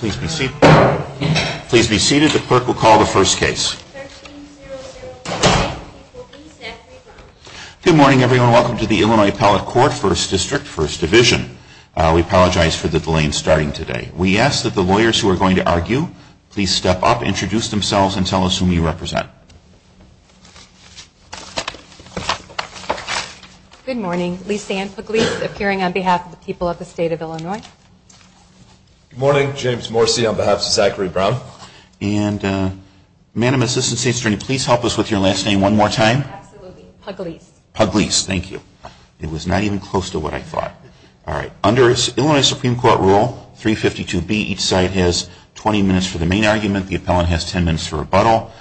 Please be seated. The clerk will call the first case. Good morning everyone. Welcome to the Illinois Appellate Court, 1st District, 1st Division. We apologize for the delay in starting today. We ask that the lawyers who are going to argue, please step up, introduce themselves, and tell us whom you represent. Good morning. Lysanne Pugliese, appearing on behalf of the people of the state of Illinois. Good morning. James Morsi, on behalf of Zachary Brown. And Madam Assistant State Attorney, please help us with your last name one more time. Absolutely. Pugliese. Pugliese. Thank you. It was not even close to what I thought. All right. Under Illinois Supreme Court rule 352B, each side has 20 minutes for the main argument. The appellant has 10 minutes for rebuttal.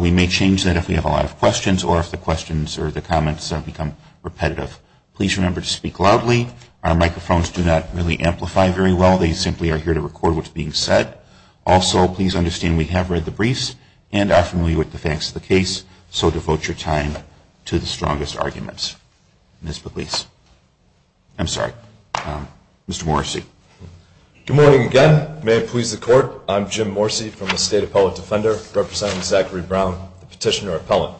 We may change that if we have a lot of questions or if the questions or the comments become repetitive. Please remember to speak loudly. Our microphones do not really amplify very well. They simply are here to record what's being said. Also, please understand we have read the briefs and are familiar with the facts of the case, so devote your time to the strongest arguments. Ms. Pugliese. I'm sorry. Mr. Morsi. Good morning again. May it please the Court. I'm Jim Morsi from the State Appellate Defender, representing Zachary Brown, the petitioner appellant.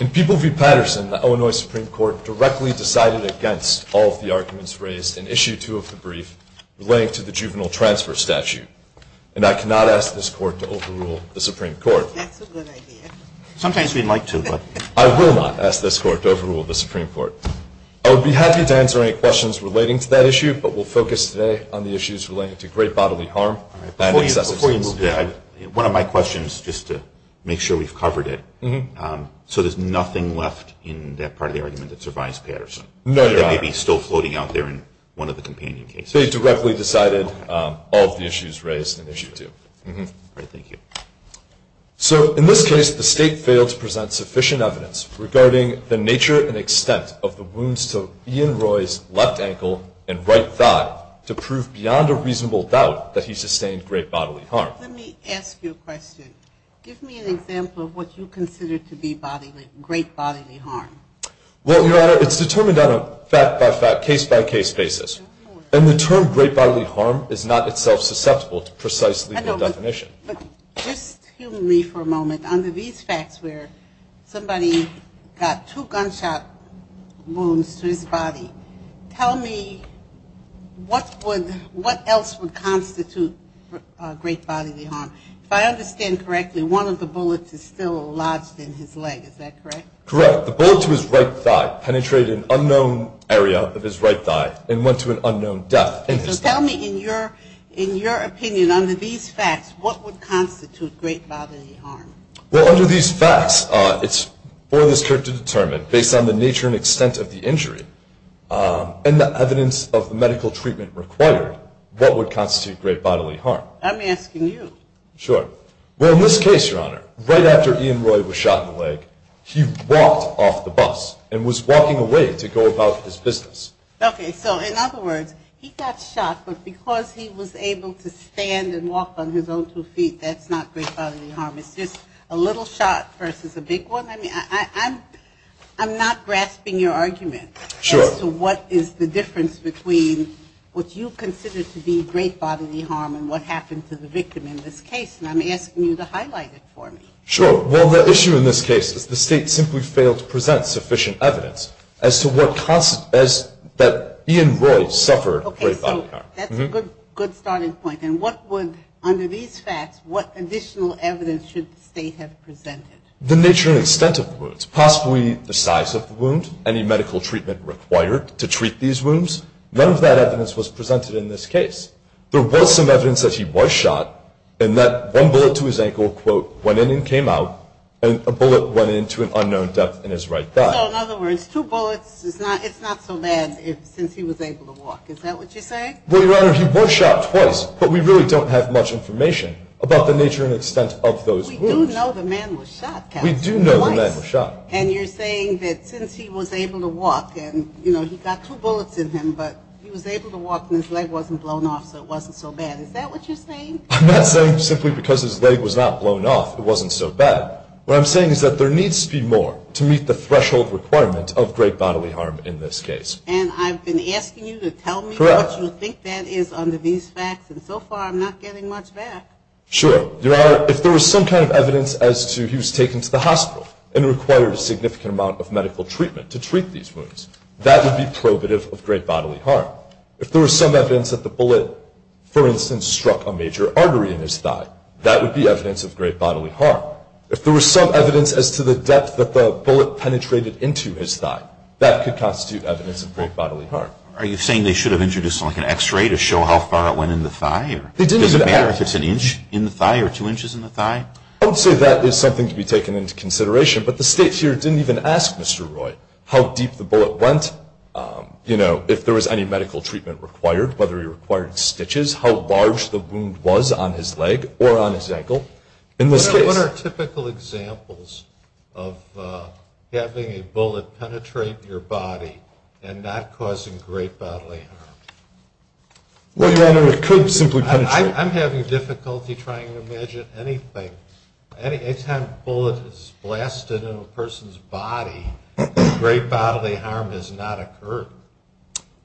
In People v. Patterson, the Illinois Supreme Court directly decided against all of the arguments raised in Issue 2 of the brief relating to the juvenile transfer statute, and I cannot ask this Court to overrule the Supreme Court. That's a good idea. Sometimes we'd like to, but... I will not ask this Court to overrule the Supreme Court. I would be happy to answer any questions relating to that issue, but we'll focus today on the issues relating to great bodily harm. Before you move to that, one of my questions, just to make sure we've covered it. So there's nothing left in that part of the argument that survives Patterson? No, there aren't. That may be still floating out there in one of the companion cases. They directly decided all of the issues raised in Issue 2. All right. Thank you. So in this case, the State failed to present sufficient evidence regarding the nature and extent of the wounds to Ian Roy's left ankle and right thigh to prove beyond a reasonable doubt that he sustained great bodily harm. Let me ask you a question. Give me an example of what you consider to be great bodily harm. Well, Your Honor, it's determined on a fact-by-fact, case-by-case basis, and the term great bodily harm is not itself susceptible to precisely the definition. But just humanly for a moment, under these facts where somebody got two gunshot wounds to his body, tell me what else would constitute great bodily harm. If I understand correctly, one of the bullets is still lodged in his leg. Is that correct? Correct. The bullet to his right thigh penetrated an unknown area of his right thigh and went to an unknown depth in his thigh. Tell me, in your opinion, under these facts, what would constitute great bodily harm? Well, under these facts, it's for this court to determine, based on the nature and extent of the injury and the evidence of the medical treatment required, what would constitute great bodily harm. I'm asking you. Sure. Well, in this case, Your Honor, right after Ian Roy was shot in the leg, he walked off the bus and was walking away to go about his business. Okay. So in other words, he got shot, but because he was able to stand and walk on his own two feet, that's not great bodily harm. It's just a little shot versus a big one. I mean, I'm not grasping your argument as to what is the difference between what you consider to be great bodily harm and what happened to the victim in this case, and I'm asking you to highlight it for me. Sure. Well, the issue in this case is the State simply failed to present sufficient evidence as to what caused that Ian Roy suffered great bodily harm. Okay, so that's a good starting point. And what would, under these facts, what additional evidence should the State have presented? The nature and extent of the wounds, possibly the size of the wound, any medical treatment required to treat these wounds. None of that evidence was presented in this case. There was some evidence that he was shot, and that one bullet to his ankle, quote, went in and came out, and a bullet went into an unknown depth in his right thigh. So, in other words, two bullets, it's not so bad since he was able to walk. Is that what you're saying? Well, Your Honor, he was shot twice, but we really don't have much information about the nature and extent of those wounds. We do know the man was shot, counsel, twice. We do know the man was shot. And you're saying that since he was able to walk, and, you know, he got two bullets in him, but he was able to walk, and his leg wasn't blown off, so it wasn't so bad. Is that what you're saying? I'm not saying simply because his leg was not blown off it wasn't so bad. What I'm saying is that there needs to be more to meet the threshold requirement of great bodily harm in this case. And I've been asking you to tell me what you think that is under these facts, and so far I'm not getting much back. Sure. Your Honor, if there was some kind of evidence as to he was taken to the hospital and required a significant amount of medical treatment to treat these wounds, that would be probative of great bodily harm. If there was some evidence that the bullet, for instance, struck a major artery in his thigh, that would be evidence of great bodily harm. If there was some evidence as to the depth that the bullet penetrated into his thigh, that could constitute evidence of great bodily harm. Are you saying they should have introduced like an X-ray to show how far it went in the thigh? Does it matter if it's an inch in the thigh or two inches in the thigh? I would say that is something to be taken into consideration, but the State here didn't even ask Mr. Roy how deep the bullet went, you know, if there was any medical treatment required, whether he required stitches, how large the wound was on his leg or on his ankle in this case. What are typical examples of having a bullet penetrate your body and not causing great bodily harm? Well, Your Honor, it could simply penetrate. I'm having difficulty trying to imagine anything. Any time a bullet is blasted in a person's body, great bodily harm has not occurred.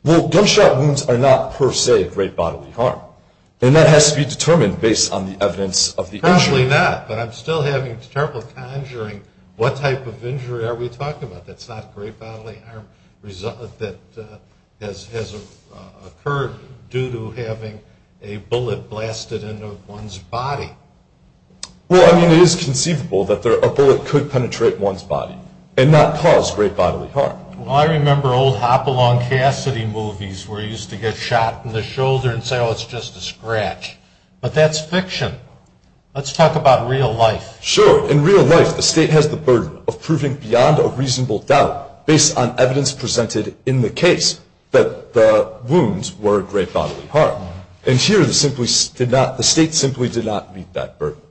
Well, gunshot wounds are not per se great bodily harm, and that has to be determined based on the evidence of the injury. Certainly not, but I'm still having trouble conjuring what type of injury are we talking about that's not great bodily harm that has occurred due to having a bullet blasted into one's body. Well, I mean, it is conceivable that a bullet could penetrate one's body and not cause great bodily harm. Well, I remember old Hopalong Cassidy movies where he used to get shot in the shoulder and say, oh, it's just a scratch, but that's fiction. Let's talk about real life. Sure. In real life, the State has the burden of proving beyond a reasonable doubt based on evidence presented in the case that the wounds were a great bodily harm, and here the State simply did not meet that burden.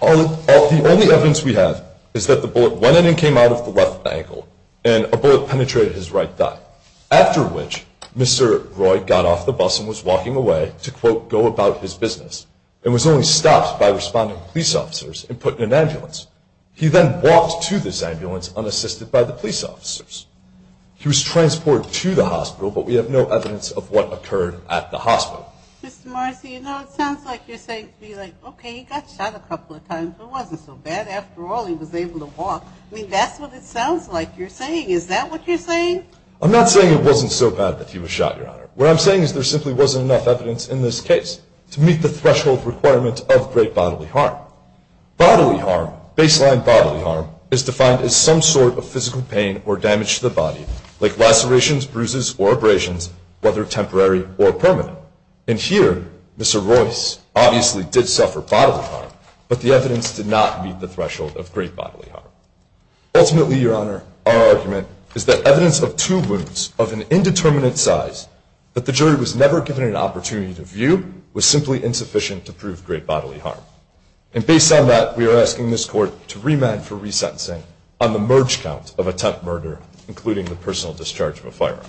The only evidence we have is that the bullet went in and came out of the left ankle, and a bullet penetrated his right thigh, after which Mr. Roy got off the bus and was walking away to, quote, go about his business and was only stopped by responding police officers and put in an ambulance. He then walked to this ambulance unassisted by the police officers. He was transported to the hospital, but we have no evidence of what occurred at the hospital. Mr. Marcy, you know, it sounds like you're saying, okay, he got shot a couple of times. It wasn't so bad. After all, he was able to walk. I mean, that's what it sounds like you're saying. Is that what you're saying? I'm not saying it wasn't so bad that he was shot, Your Honor. What I'm saying is there simply wasn't enough evidence in this case to meet the threshold requirement of great bodily harm. Bodily harm, baseline bodily harm, is defined as some sort of physical pain or damage to the body, like lacerations, bruises, or abrasions, whether temporary or permanent. And here, Mr. Roy obviously did suffer bodily harm, but the evidence did not meet the threshold of great bodily harm. Ultimately, Your Honor, our argument is that evidence of two wounds of an indeterminate size that the jury was never given an opportunity to view was simply insufficient to prove great bodily harm. And based on that, we are asking this Court to remand for resentencing on the merge count of attempt murder, including the personal discharge of a firearm.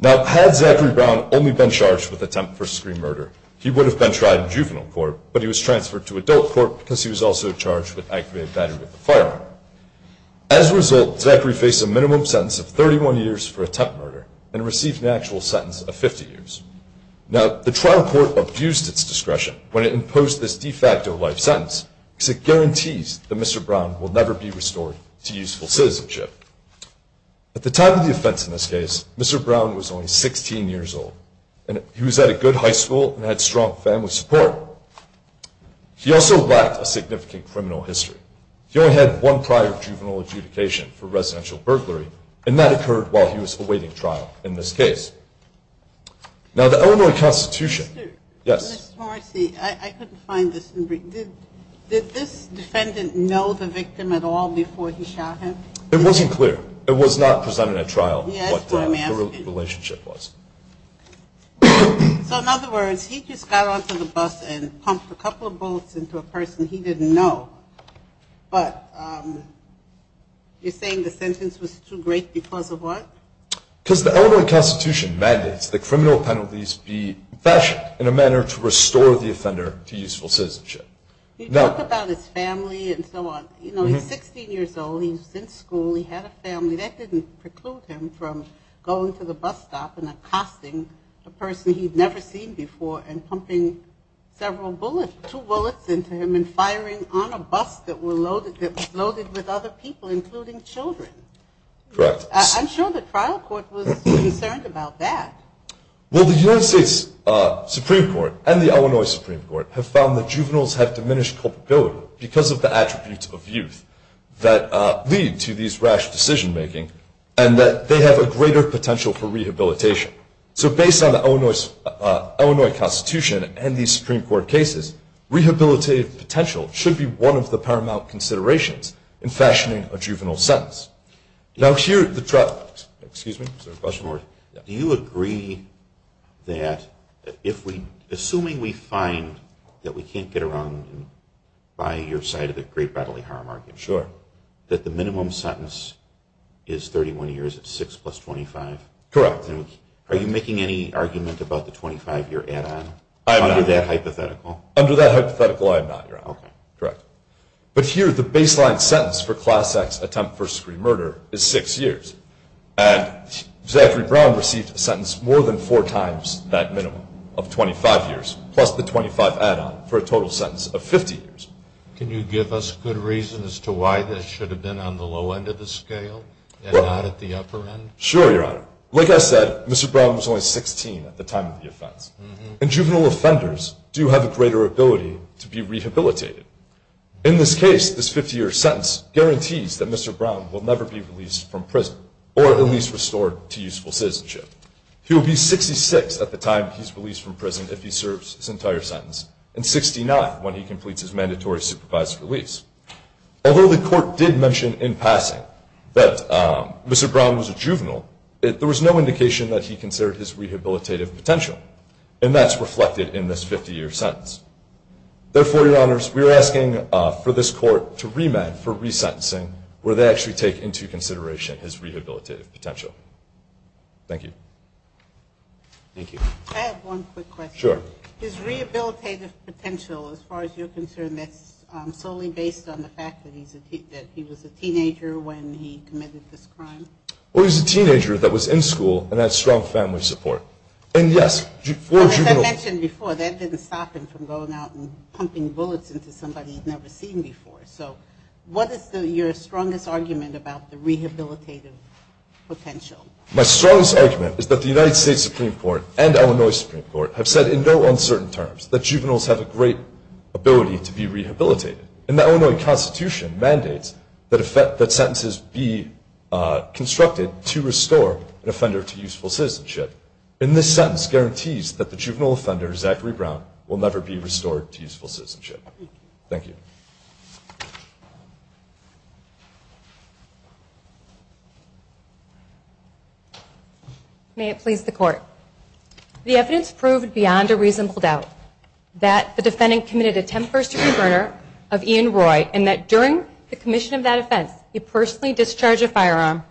Now, had Zachary Brown only been charged with attempt first-degree murder, he would have been tried in juvenile court, but he was transferred to adult court because he was also charged with activated battery with a firearm. As a result, Zachary faced a minimum sentence of 31 years for attempt murder and received an actual sentence of 50 years. Now, the trial court abused its discretion when it imposed this de facto life sentence because it guarantees that Mr. Brown will never be restored to useful citizenship. At the time of the offense in this case, Mr. Brown was only 16 years old, and he was at a good high school and had strong family support. He also lacked a significant criminal history. He only had one prior juvenile adjudication for residential burglary, and that occurred while he was awaiting trial in this case. Now, the Illinois Constitution. Yes? Mr. Morrissey, I couldn't find this. Did this defendant know the victim at all before he shot him? It wasn't clear. It was not presented at trial what the relationship was. So, in other words, he just got onto the bus and pumped a couple of bullets into a person he didn't know, but you're saying the sentence was too great because of what? Because the Illinois Constitution mandates that criminal penalties be fashioned in a manner to restore the offender to useful citizenship. You talk about his family and so on. You know, he's 16 years old. He was in school. He had a family. That didn't preclude him from going to the bus stop and accosting a person he'd never seen before and pumping several bullets, two bullets into him and firing on a bus that was loaded with other people, including children. Correct. I'm sure the trial court was concerned about that. Well, the United States Supreme Court and the Illinois Supreme Court have found that juveniles have diminished culpability because of the attributes of youth that lead to these rash decision-making and that they have a greater potential for rehabilitation. So, based on the Illinois Constitution and these Supreme Court cases, rehabilitative potential should be one of the paramount considerations in fashioning a juvenile sentence. Now, here at the trial court, do you agree that if we, assuming we find that we can't get around by your side of the great bodily harm argument, that the minimum sentence is 31 years, it's 6 plus 25? Correct. Are you making any argument about the 25-year add-on under that hypothetical? Under that hypothetical, I am not, Your Honor. Okay. Correct. But here, the baseline sentence for class X attempt first-degree murder is 6 years. And Zachary Brown received a sentence more than four times that minimum of 25 years, plus the 25 add-on, for a total sentence of 50 years. Can you give us good reason as to why this should have been on the low end of the scale and not at the upper end? Sure, Your Honor. Like I said, Mr. Brown was only 16 at the time of the offense. And juvenile offenders do have a greater ability to be rehabilitated. In this case, this 50-year sentence guarantees that Mr. Brown will never be released from prison or at least restored to useful citizenship. He will be 66 at the time he's released from prison if he serves his entire sentence, and 69 when he completes his mandatory supervised release. Although the court did mention in passing that Mr. Brown was a juvenile, there was no indication that he considered his rehabilitative potential, and that's reflected in this 50-year sentence. Therefore, Your Honors, we are asking for this court to remand for resentencing where they actually take into consideration his rehabilitative potential. Thank you. Thank you. Can I have one quick question? Sure. His rehabilitative potential, as far as you're concerned, that's solely based on the fact that he was a teenager when he committed this crime? Well, he was a teenager that was in school and had strong family support. And, yes, for juveniles. As you mentioned before, that didn't stop him from going out and pumping bullets into somebody he'd never seen before. So what is your strongest argument about the rehabilitative potential? My strongest argument is that the United States Supreme Court and Illinois Supreme Court have said in no uncertain terms that juveniles have a great ability to be rehabilitated, and the Illinois Constitution mandates that sentences be constructed to restore an offender to useful citizenship. And this sentence guarantees that the juvenile offender, Zachary Brown, will never be restored to useful citizenship. Thank you. May it please the Court. The evidence proved beyond a reasonable doubt that the defendant committed a 10-first-degree murder of Ian Roy and that during the commission of that offense, he personally discharged a firearm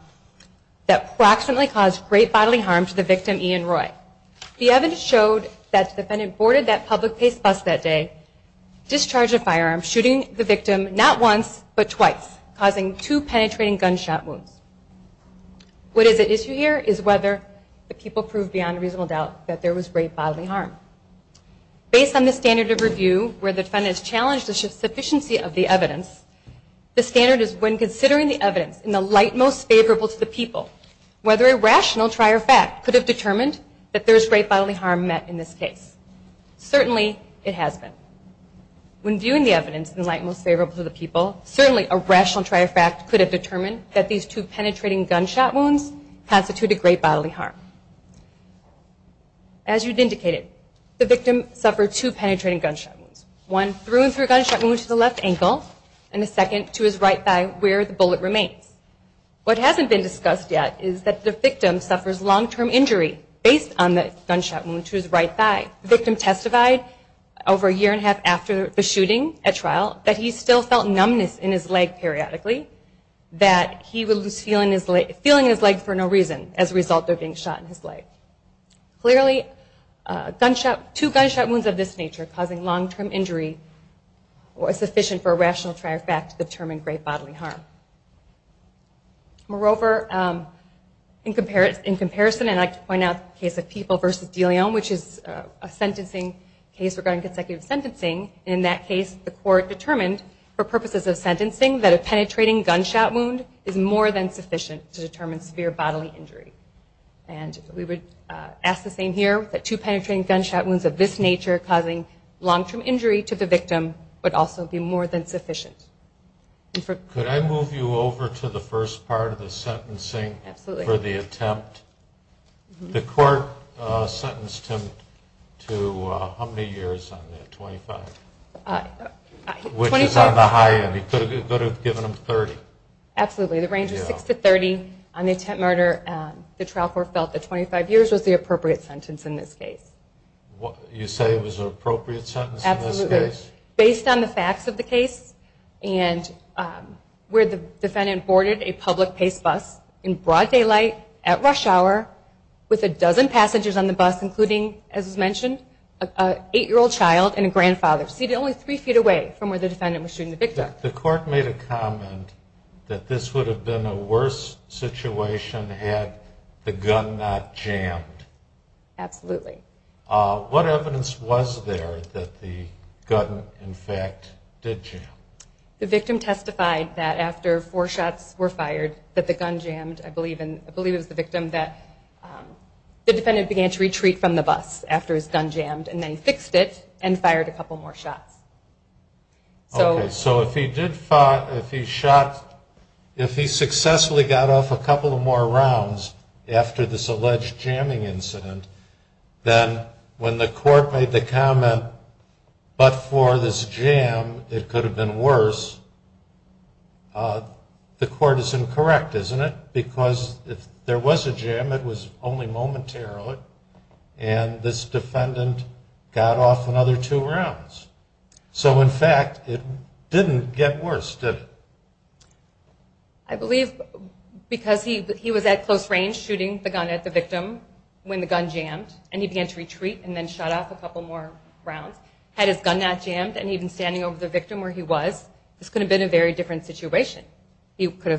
that approximately caused great bodily harm to the victim, Ian Roy. The evidence showed that the defendant boarded that public pace bus that day, discharged a firearm, shooting the victim not once but twice, causing two penetrating gunshot wounds. What is at issue here is whether the people proved beyond reasonable doubt that there was great bodily harm. Based on the standard of review, where the defendant has challenged the sufficiency of the evidence, the standard is when considering the evidence in the light most favorable to the people, whether a rational try or fact could have determined that there was great bodily harm met in this case. Certainly, it has been. When viewing the evidence in the light most favorable to the people, certainly a rational try or fact could have determined that these two penetrating gunshot wounds constituted great bodily harm. As you've indicated, the victim suffered two penetrating gunshot wounds, one through and through a gunshot wound to the left ankle and a second to his right thigh where the bullet remains. What hasn't been discussed yet is that the victim suffers long-term injury based on the gunshot wound to his right thigh. The victim testified over a year and a half after the shooting at trial that he still felt numbness in his leg periodically, that he was feeling his leg for no reason, as a result of being shot in his leg. Clearly, two gunshot wounds of this nature causing long-term injury was sufficient for a rational try or fact to determine great bodily harm. Moreover, in comparison, and I'd like to point out the case of People v. DeLeon, which is a sentencing case regarding consecutive sentencing. In that case, the court determined, for purposes of sentencing, that a penetrating gunshot wound is more than sufficient to determine severe bodily injury. We would ask the same here, that two penetrating gunshot wounds of this nature causing long-term injury to the victim would also be more than sufficient. Could I move you over to the first part of the sentencing for the attempt? Absolutely. The court sentenced him to how many years on that? 25? 25. Which is on the high end. He could have given him 30. Absolutely. The range was 6 to 30. On the attempt murder, the trial court felt that 25 years was the appropriate sentence in this case. You say it was an appropriate sentence in this case? Absolutely. Based on the facts of the case and where the defendant boarded a public pace bus in broad daylight, at rush hour, with a dozen passengers on the bus, including, as was mentioned, an 8-year-old child and a grandfather, seated only 3 feet away from where the defendant was shooting the victim. The court made a comment that this would have been a worse situation had the gun not jammed. Absolutely. What evidence was there that the gun, in fact, did jam? The victim testified that after 4 shots were fired that the gun jammed. I believe it was the victim that the defendant began to retreat from the bus after his gun jammed. And then he fixed it and fired a couple more shots. So if he did fire, if he shot, if he successfully got off a couple more rounds after this alleged jamming incident, then when the court made the comment, but for this jam, it could have been worse, the court is incorrect, isn't it? Because if there was a jam, it was only momentarily, and this defendant got off another two rounds. So, in fact, it didn't get worse, did it? I believe because he was at close range shooting the gun at the victim when the gun jammed, and he began to retreat and then shot off a couple more rounds, had his gun not jammed and he'd been standing over the victim where he was, this could have been a very different situation. He could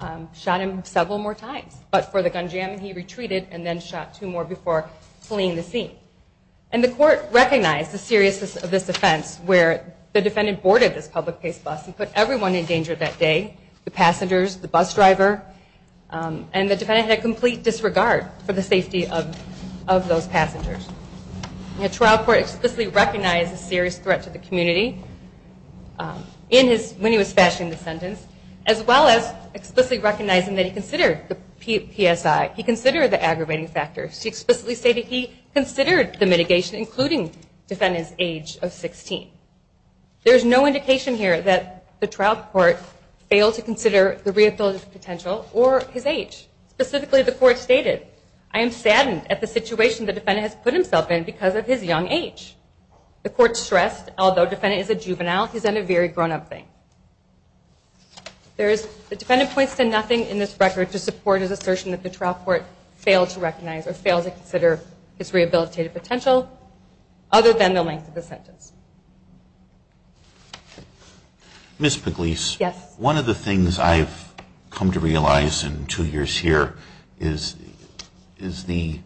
have shot him several more times. But for the gun jam, he retreated and then shot two more before fleeing the scene. And the court recognized the seriousness of this offense where the defendant boarded this public face bus and put everyone in danger that day, the passengers, the bus driver, and the defendant had complete disregard for the safety of those passengers. The trial court explicitly recognized the serious threat to the community when he was fashioning the sentence, as well as explicitly recognizing that he considered the PSI, he considered the aggravating factors, he explicitly stated he considered the mitigation, including the defendant's age of 16. There's no indication here that the trial court failed to consider the rehabilitative potential or his age. Specifically, the court stated, I am saddened at the situation the defendant has put himself in because of his young age. The court stressed, although the defendant is a juvenile, he's done a very grown-up thing. The defendant points to nothing in this record to support his assertion that the trial court failed to recognize or failed to consider his rehabilitative potential other than the length of the sentence. Ms. Pugliese, one of the things I've come to realize in two years here is the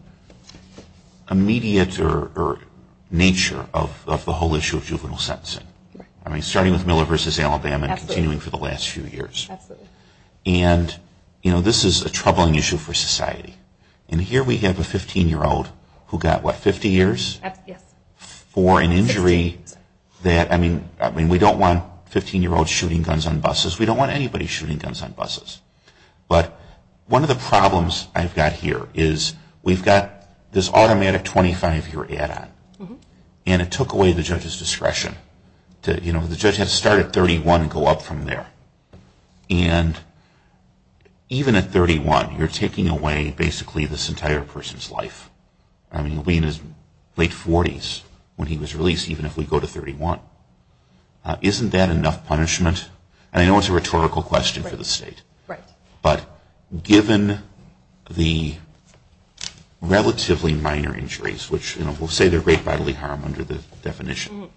immediate nature of the whole issue of juvenile sentencing, starting with Miller v. Alabama and continuing for the last few years. And this is a troubling issue for society. And here we have a 15-year-old who got, what, 50 years? Yes. For an injury that, I mean, we don't want 15-year-olds shooting guns on buses. We don't want anybody shooting guns on buses. But one of the problems I've got here is we've got this automatic 25-year add-on. And it took away the judge's discretion. You know, the judge had to start at 31 and go up from there. And even at 31, you're taking away basically this entire person's life. I mean, he'll be in his late 40s when he was released, even if we go to 31. Isn't that enough punishment? And I know it's a rhetorical question for the state. But given the relatively minor injuries, which, you know, we'll say they're great bodily harm under the definition.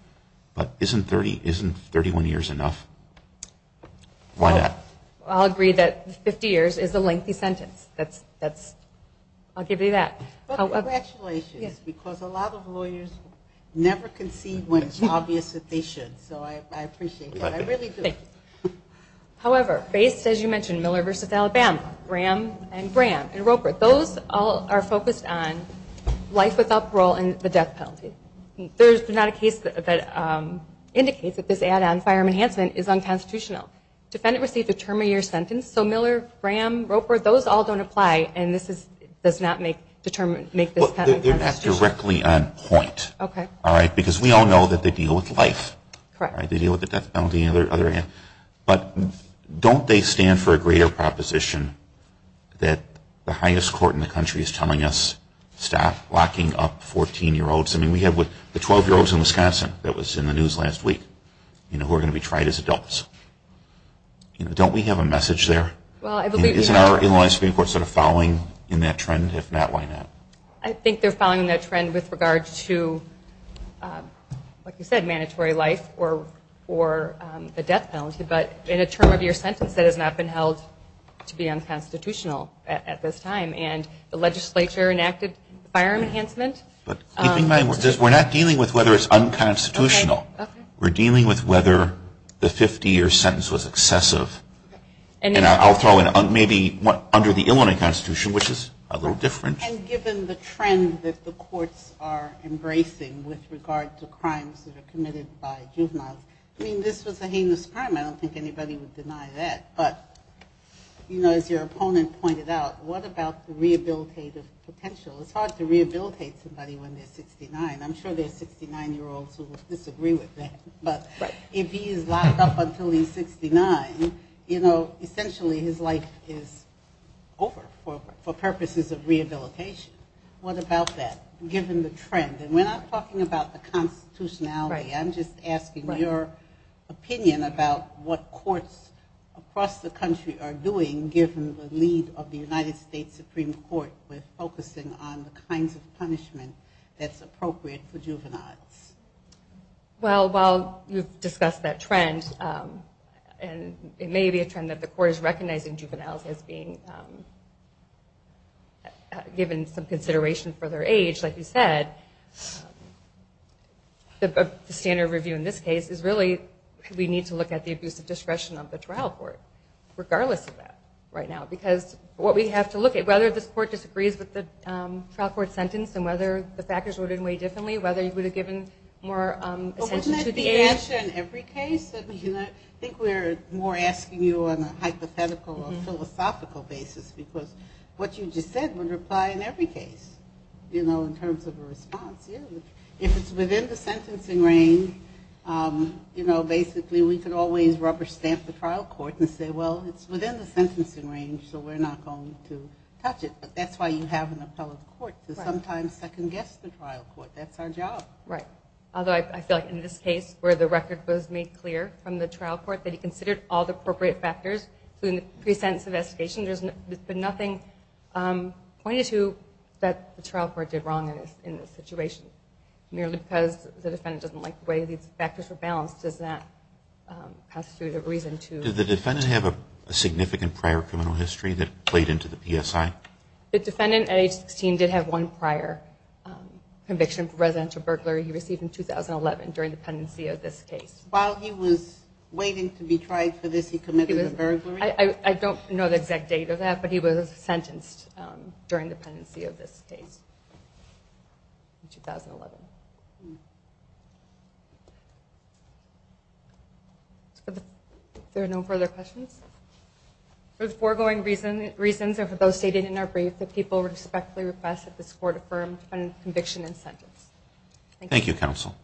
But isn't 31 years enough? Why not? I'll agree that 50 years is a lengthy sentence. I'll give you that. But congratulations, because a lot of lawyers never concede when it's obvious that they should. So I appreciate that. I really do. However, based, as you mentioned, Miller v. Alabama, Graham v. Roper, those all are focused on life without parole and the death penalty. There's not a case that indicates that this add-on firearm enhancement is unconstitutional. Defendant received a term of year sentence. So Miller, Graham, Roper, those all don't apply. And this does not make this penalty constitutional. They're not directly on point. Because we all know that they deal with life. They deal with the death penalty and the other end. But don't they stand for a greater proposition that the highest court in the country is telling us stop locking up 14-year-olds? I mean, we have the 12-year-olds in Wisconsin that was in the news last week who are going to be tried as adults. Don't we have a message there? Isn't our Illinois Supreme Court sort of following in that trend? If not, why not? I think they're following that trend with regard to, like you said, mandatory life or the death penalty. But in a term of year sentence that has not been held to be unconstitutional at this time. And the legislature enacted firearm enhancement. But keeping in mind, we're not dealing with whether it's unconstitutional. We're dealing with whether the 50-year sentence was excessive. And I'll throw in maybe under the Illinois Constitution, which is a little different. And given the trend that the courts are embracing with regard to crimes that are committed by juveniles. I mean, this was a heinous crime. I don't think anybody would deny that. But as your opponent pointed out, what about the rehabilitative potential? It's hard to rehabilitate somebody when they're 69. I'm sure there are 69-year-olds who would disagree with that. But if he is locked up until he's 69, essentially his life is over for purposes of rehabilitation. What about that, given the trend? And we're not talking about the constitutionality. I'm just asking your opinion about what courts across the country are doing, given the lead of the United States Supreme Court with focusing on the kinds of punishment that's appropriate for juveniles. Well, while you've discussed that trend, and it may be a trend that the court is recognizing juveniles as being given some consideration for their age, like you said, the standard review in this case is really, we need to look at the abuse of discretion of the trial court, regardless of that right now. Because what we have to look at, whether this court disagrees with the trial court sentence and whether the factors were ordered in a way differently, whether you would have given more attention to the age. But wouldn't that be the answer in every case? I think we're more asking you on a hypothetical or philosophical basis. Because what you just said would apply in every case, in terms of a response. If it's within the sentencing range, basically we could always rubber stamp the trial court and say, well, it's within the sentencing range, so we're not going to touch it. But that's why you have an appellate court to sometimes second-guess the trial court. That's our job. Right. Although I feel like in this case, where the record was made clear from the trial court that he considered all the appropriate factors in the pre-sentence investigation, there's been nothing pointed to that the trial court did wrong in this situation. Merely because the defendant doesn't like the way these factors were balanced, does that pass through the reason to... Did the defendant have a significant prior criminal history that played into the PSI? The defendant at age 16 did have one prior conviction for residential burglary he received in 2011, during the pendency of this case. While he was waiting to be tried for this, he committed a burglary? I don't know the exact date of that, but he was sentenced during the pendency of this case in 2011. Okay. Are there no further questions? Those foregoing reasons are for those stated in our brief that people respectfully request that this court affirm the defendant's conviction and sentence. Thank you, counsel.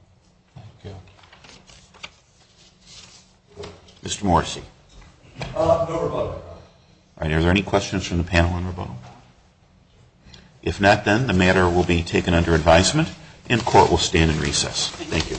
Mr. Morrissey. No rebuttal, Your Honor. Are there any questions from the panel on rebuttal? If not, then the matter will be taken under advisement, and court will stand in recess. Thank you.